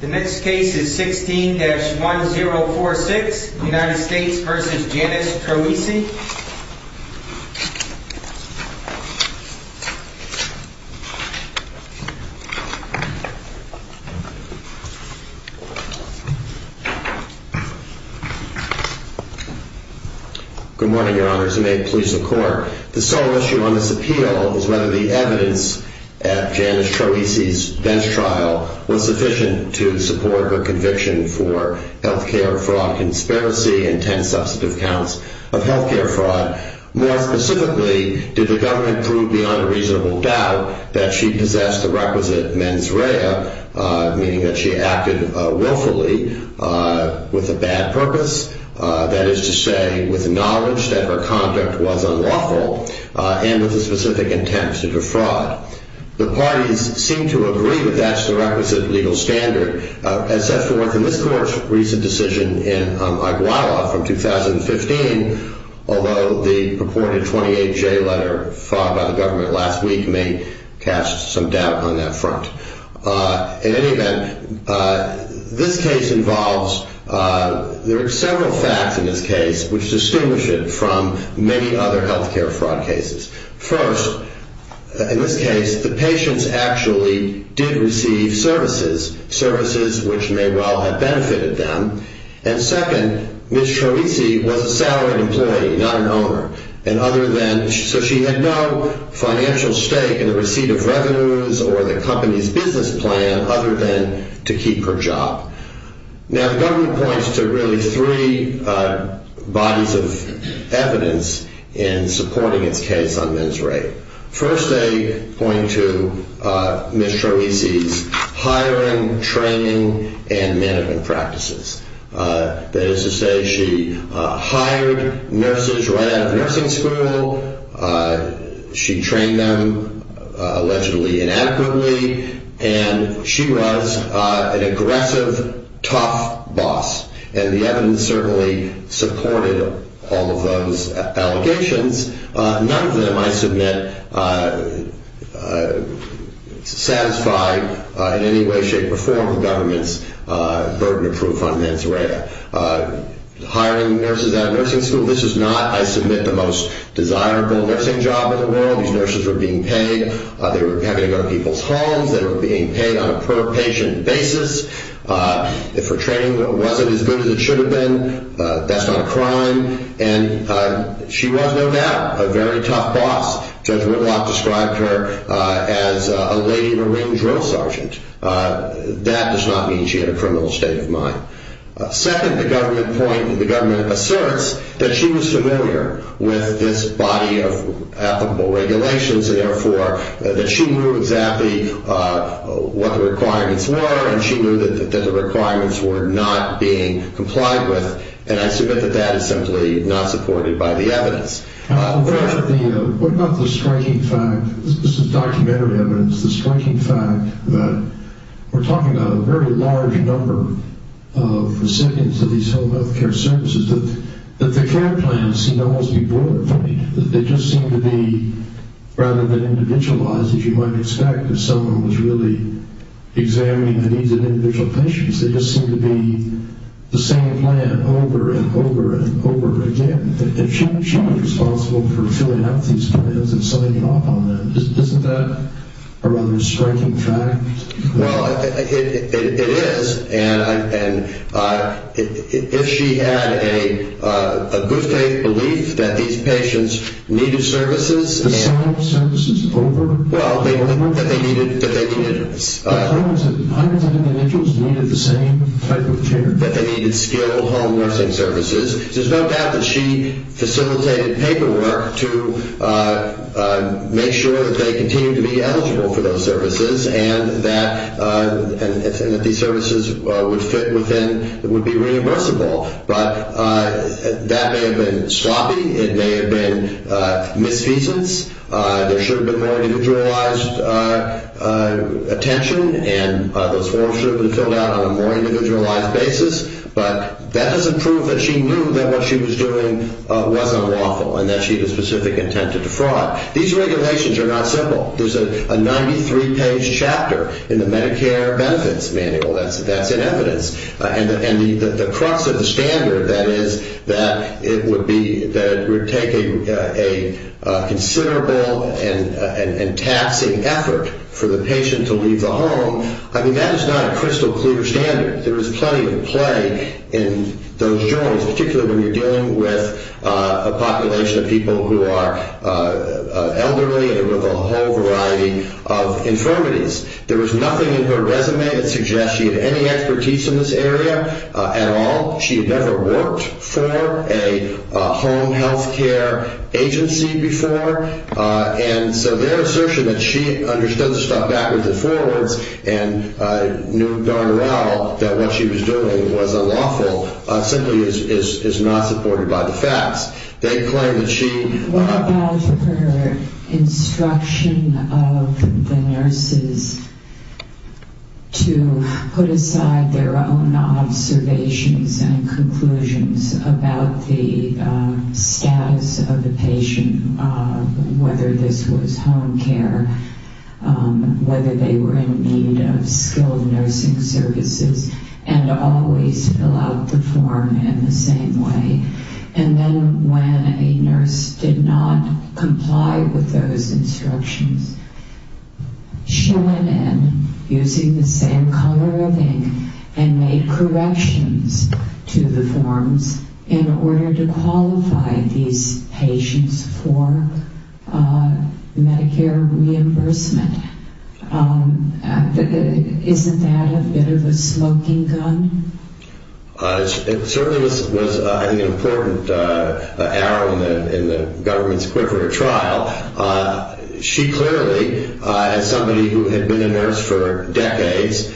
The next case is 16-1046, United States v. Janis Troisi. Good morning, your honors, and may it please the court. The sole issue on this appeal is whether the evidence at Janis Troisi's bench trial was sufficient to support her conviction for healthcare fraud conspiracy and 10 substantive counts of healthcare fraud. More specifically, did the government prove beyond a reasonable doubt that she possessed the requisite mens rea, meaning that she acted willfully with a bad purpose? That is to say, with knowledge that her conduct was unlawful and with a specific intent to defraud. The parties seem to agree that that's the requisite legal standard. As set forth in this court's recent decision in Iguala from 2015, although the purported 28J letter filed by the government last week may cast some doubt on that front. In any event, this case involves several facts in this case which distinguish it from many other healthcare fraud cases. First, in this case, the patients actually did receive services, services which may well have benefited them. And second, Ms. Troisi was a salaried employee, not an owner. So she had no financial stake in the receipt of revenues or the company's business plan other than to keep her job. Now, the government points to really three bodies of evidence in supporting its case on mens rea. First, they point to Ms. Troisi's hiring, training, and management practices. That is to say, she hired nurses right out of nursing school. She trained them allegedly inadequately. And she was an aggressive, tough boss. And the evidence certainly supported all of those allegations. None of them, I submit, satisfied in any way, shape, or form the government's burden of proof on mens rea. Hiring nurses out of nursing school, this is not, I submit, the most desirable nursing job in the world. These nurses were being paid. They were having to go to people's homes. They were being paid on a per-patient basis. If her training wasn't as good as it should have been, that's not a crime. And she was, no doubt, a very tough boss. Judge Whitlock described her as a lady in a ring drill sergeant. That does not mean she had a criminal state of mind. Second, the government asserts that she was familiar with this body of applicable regulations, and therefore that she knew exactly what the requirements were, and she knew that the requirements were not being complied with. And I submit that that is simply not supported by the evidence. What about the striking fact, this is documentary evidence, the striking fact that we're talking about a very large number of recipients of these health care services, that the care plans seem to almost be broiler plate. They just seem to be, rather than individualized, as you might expect, if someone was really examining the needs of individual patients, they just seem to be the same plan over and over and over again. She should be responsible for filling out these plans and signing off on them. Isn't that a rather striking fact? Well, it is. And if she had a good faith belief that these patients needed services and... The sum of services over and over? Well, that they needed... Hundreds of individuals needed the same type of care? That they needed skilled home nursing services. There's no doubt that she facilitated paperwork to make sure that they continued to be eligible for those services and that these services would fit within, would be reimbursable. But that may have been sloppy. It may have been misfeasance. There should have been more individualized attention and those forms should have been filled out on a more individualized basis. But that doesn't prove that she knew that what she was doing wasn't lawful and that she had a specific intent to defraud. These regulations are not simple. There's a 93-page chapter in the Medicare Benefits Manual. That's in evidence. And the crux of the standard, that is, that it would be... That it would take a considerable and taxing effort for the patient to leave the home, I mean, that is not a crystal clear standard. There is plenty at play in those journals, particularly when you're dealing with a population of people who are elderly and with a whole variety of infirmities. There was nothing in her resume that suggests she had any expertise in this area at all. She had never worked for a home health care agency before. And so their assertion that she understood the stuff backwards and forwards and knew darn well that what she was doing was unlawful simply is not supported by the facts. They claim that she... It was the discretion of the nurses to put aside their own observations and conclusions about the status of the patient, whether this was home care, whether they were in need of skilled nursing services, and always fill out the form in the same way. And then when a nurse did not comply with those instructions, she went in using the same color of ink and made corrections to the forms in order to qualify these patients for Medicare reimbursement. Isn't that a bit of a smoking gun? It certainly was, I think, an important arrow in the government's quiver of trial. She clearly, as somebody who had been a nurse for decades,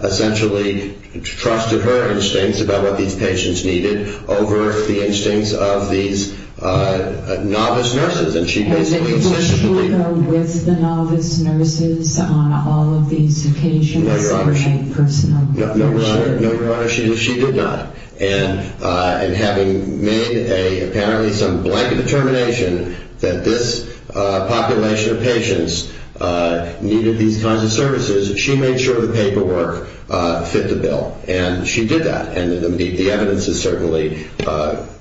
essentially trusted her instincts about what these patients needed over the instincts of these novice nurses. And she basically... Was she there with the novice nurses on all of these occasions? No, Your Honor. No, Your Honor, she did not. And having made apparently some blanket determination that this population of patients needed these kinds of services, she made sure the paperwork fit the bill, and she did that. And the evidence is certainly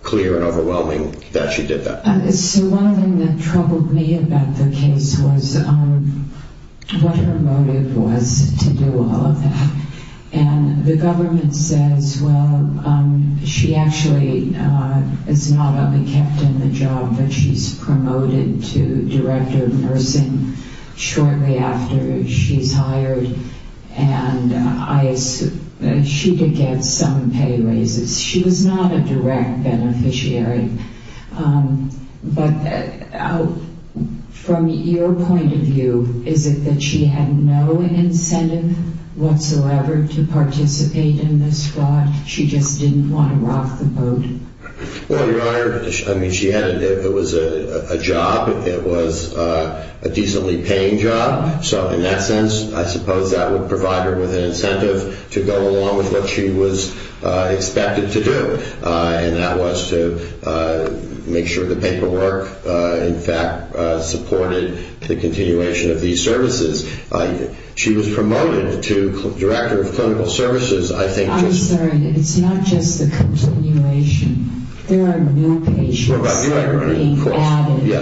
clear and overwhelming that she did that. So one of the things that troubled me about the case was what her motive was to do all of that. And the government says, well, she actually is not only kept in the job, but she's promoted to director of nursing shortly after she's hired. And she did get some pay raises. She was not a direct beneficiary. But from your point of view, is it that she had no incentive whatsoever to participate in this fraud? She just didn't want to rock the boat? Well, Your Honor, I mean, she had it. It was a job. It was a decently paying job. So in that sense, I suppose that would provide her with an incentive to go along with what she was expected to do. And that was to make sure the paperwork, in fact, supported the continuation of these services. She was promoted to director of clinical services, I think. I'm sorry. It's not just the continuation. There are new patients that are being added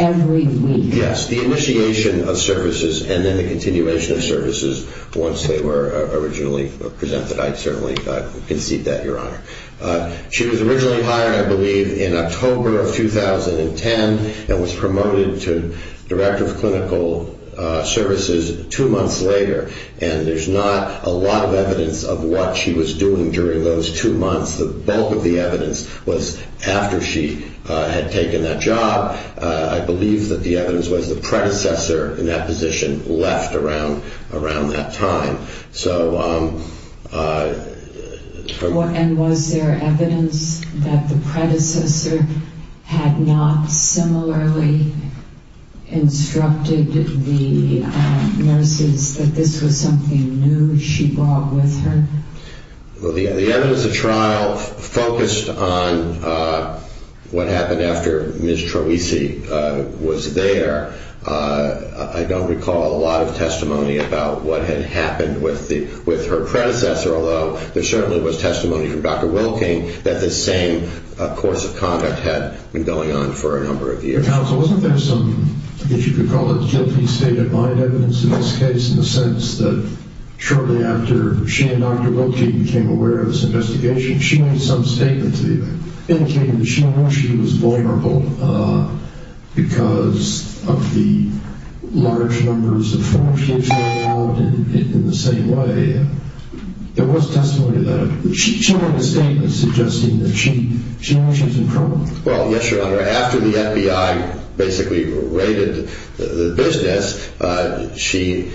every week. Yes, the initiation of services and then the continuation of services once they were originally presented. I certainly concede that, Your Honor. She was originally hired, I believe, in October of 2010 and was promoted to director of clinical services two months later. And there's not a lot of evidence of what she was doing during those two months. The bulk of the evidence was after she had taken that job. I believe that the evidence was the predecessor in that position left around that time. So... And was there evidence that the predecessor had not similarly instructed the nurses that this was something new she brought with her? The evidence of trial focused on what happened after Ms. Troisi was there. I don't recall a lot of testimony about what had happened with her predecessor, although there certainly was testimony from Dr. Wilking that this same course of conduct had been going on for a number of years. Counsel, wasn't there some, if you could call it, guilty state of mind evidence in this case in the sense that shortly after she and Dr. Wilking became aware of this investigation, she made some statements indicating that she knew she was vulnerable because of the large numbers of foreign kids who were involved in the same way. There was testimony of that. But she made a statement suggesting that she knew she was in trouble. Well, yes, Your Honor, after the FBI basically raided the business, she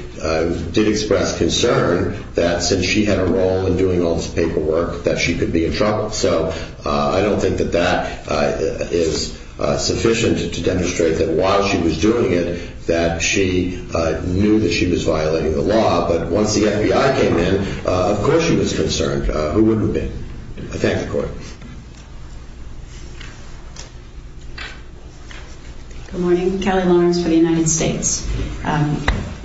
did express concern that since she had a role in doing all this paperwork that she could be in trouble. So I don't think that that is sufficient to demonstrate that while she was doing it that she knew that she was violating the law. But once the FBI came in, of course she was concerned. Who wouldn't have been? I thank the Court. Good morning. Kelly Lawrence for the United States.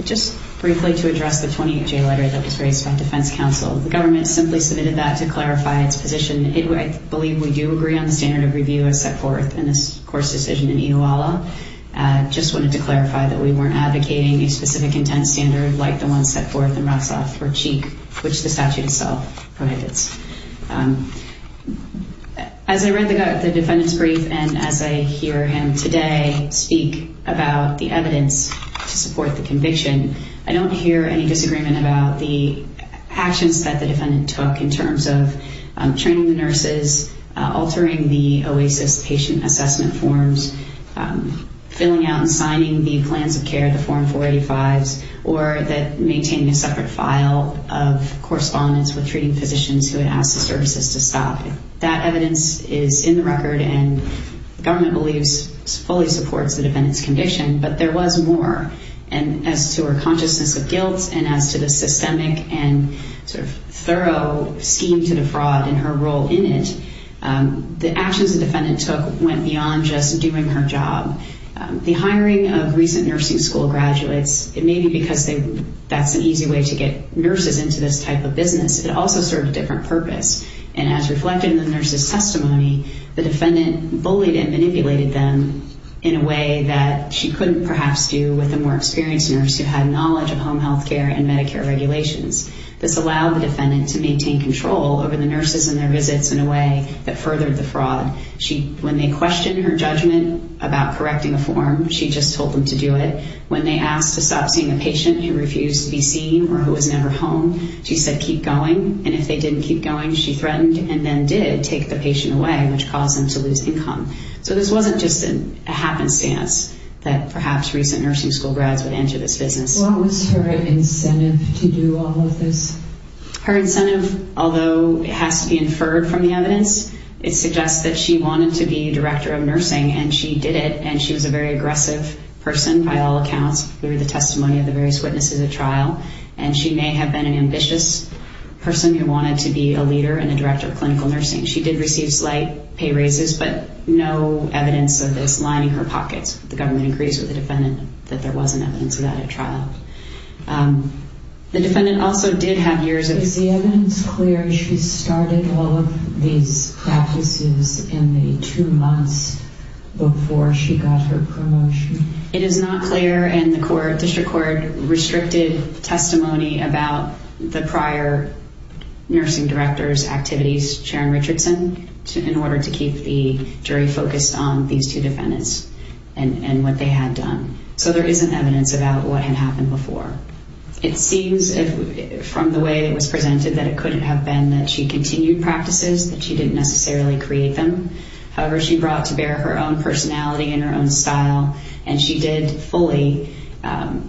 Just briefly to address the 28-J letter that was raised by defense counsel, the government simply submitted that to clarify its position. I believe we do agree on the standard of review as set forth in this court's decision in Iluwala. I just wanted to clarify that we weren't advocating a specific intent standard like the one set forth in Rassaf for Cheek, which the statute itself prohibits. As I read the defendant's brief and as I hear him today speak about the evidence to support the conviction, I don't hear any disagreement about the actions that the defendant took in terms of training the nurses, altering the OASIS patient assessment forms, filling out and signing the plans of care, the Form 485s, or maintaining a separate file of correspondence with treating physicians who had asked the services to stop. That evidence is in the record and the government believes fully supports the defendant's conviction. But there was more. As to her consciousness of guilt and as to the systemic and sort of thorough scheme to defraud and her role in it, the actions the defendant took went beyond just doing her job. The hiring of recent nursing school graduates, maybe because that's an easy way to get nurses into this type of business, it also served a different purpose. As reflected in the nurse's testimony, the defendant bullied and manipulated them in a way that she couldn't perhaps do with a more experienced nurse who had knowledge of home health care and Medicare regulations. This allowed the defendant to maintain control over the nurses and their visits in a way that furthered the fraud. When they questioned her judgment about correcting a form, she just told them to do it. When they asked to stop seeing a patient who refused to be seen or who was never home, she said, keep going. And if they didn't keep going, she threatened and then did take the patient away, which caused them to lose income. So this wasn't just a happenstance that perhaps recent nursing school grads would enter this business. What was her incentive to do all of this? Her incentive, although it has to be inferred from the evidence, it suggests that she wanted to be director of nursing, and she did it, and she was a very aggressive person by all accounts through the testimony of the various witnesses at trial, and she may have been an ambitious person who wanted to be a leader and a director of clinical nursing. She did receive slight pay raises, but no evidence of this lining her pockets. The government agrees with the defendant that there wasn't evidence of that at trial. The defendant also did have years of... Is the evidence clear she started all of these practices in the two months before she got her promotion? It is not clear, and the district court restricted testimony about the prior nursing director's activities, Sharon Richardson, in order to keep the jury focused on these two defendants and what they had done. So there isn't evidence about what had happened before. It seems, from the way it was presented, that it couldn't have been that she continued practices, that she didn't necessarily create them. However, she brought to bear her own personality and her own style, and she did fully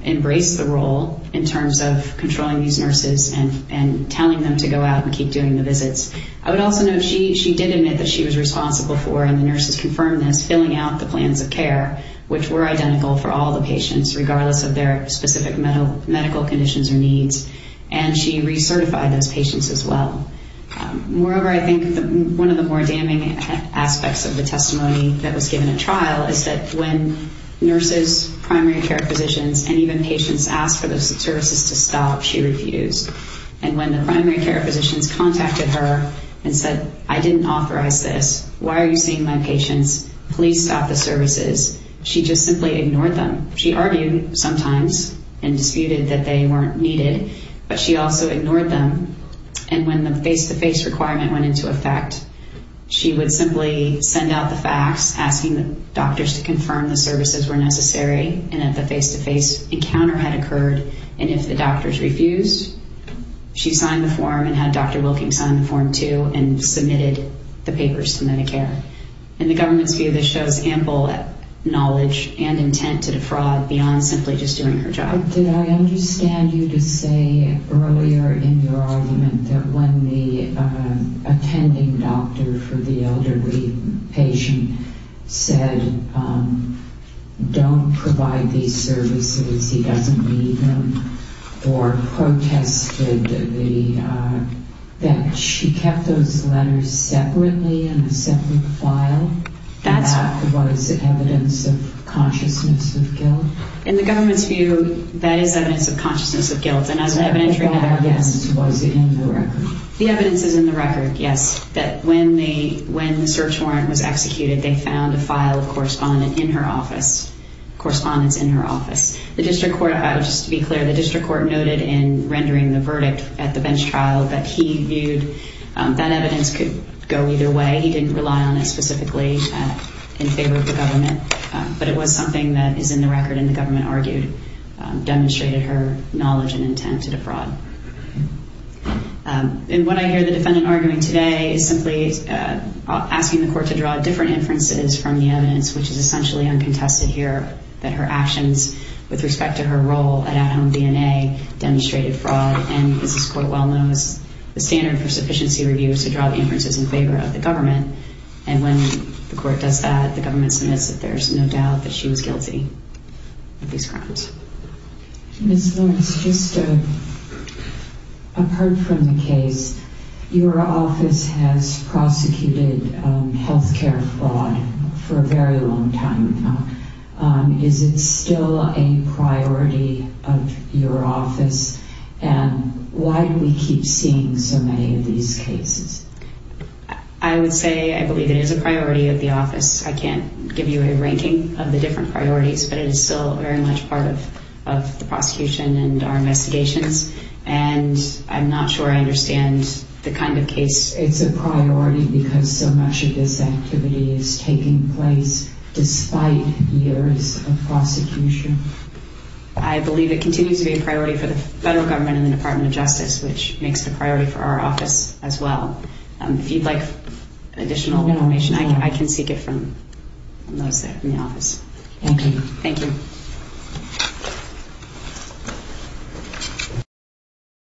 embrace the role in terms of controlling these nurses and telling them to go out and keep doing the visits. I would also note she did admit that she was responsible for, and the nurses confirmed this, filling out the plans of care, which were identical for all the patients, regardless of their specific medical conditions or needs, and she recertified those patients as well. Moreover, I think one of the more damning aspects of the testimony that was given at trial is that when nurses, primary care physicians, and even patients asked for those services to stop, she refused. And when the primary care physicians contacted her and said, I didn't authorize this, why are you seeing my patients, please stop the services, she just simply ignored them. She argued sometimes and disputed that they weren't needed, but she also ignored them. And when the face-to-face requirement went into effect, she would simply send out the facts, asking the doctors to confirm the services were necessary and that the face-to-face encounter had occurred, and if the doctors refused, she signed the form and had Dr. Wilking sign the form too and submitted the papers to Medicare. And the government's view of this shows ample knowledge and intent to defraud beyond simply just doing her job. Did I understand you to say earlier in your argument that when the attending doctor for the elderly patient said, don't provide these services, he doesn't need them, or protested that she kept those letters separately in a separate file, and that was evidence of consciousness of guilt? In the government's view, that is evidence of consciousness of guilt, and as an evidentiary matter. The evidence was in the record. The evidence is in the record, yes, that when the search warrant was executed, they found a file of correspondence in her office. The district court, just to be clear, the district court noted in rendering the verdict at the bench trial that he viewed that evidence could go either way. He didn't rely on it specifically in favor of the government, but it was something that is in the record, and the government argued demonstrated her knowledge and intent to defraud. And what I hear the defendant arguing today is simply asking the court to draw different inferences from the evidence, which is essentially uncontested here, that her actions with respect to her role at At Home DNA demonstrated fraud, and as this court well knows, the standard for sufficiency review is to draw inferences in favor of the government, and when the court does that, the government submits that there's no doubt that she was guilty of these crimes. Ms. Lawrence, just apart from the case, your office has prosecuted health care fraud for a very long time now. Is it still a priority of your office, and why do we keep seeing so many of these cases? I would say I believe it is a priority of the office. I can't give you a ranking of the different priorities, but it is still very much part of the prosecution and our investigations, and I'm not sure I understand the kind of case. It's a priority because so much of this activity is taking place despite years of prosecution. I believe it continues to be a priority for the federal government and the Department of Justice, which makes it a priority for our office as well. If you'd like additional information, I can seek it from those in the office. Thank you.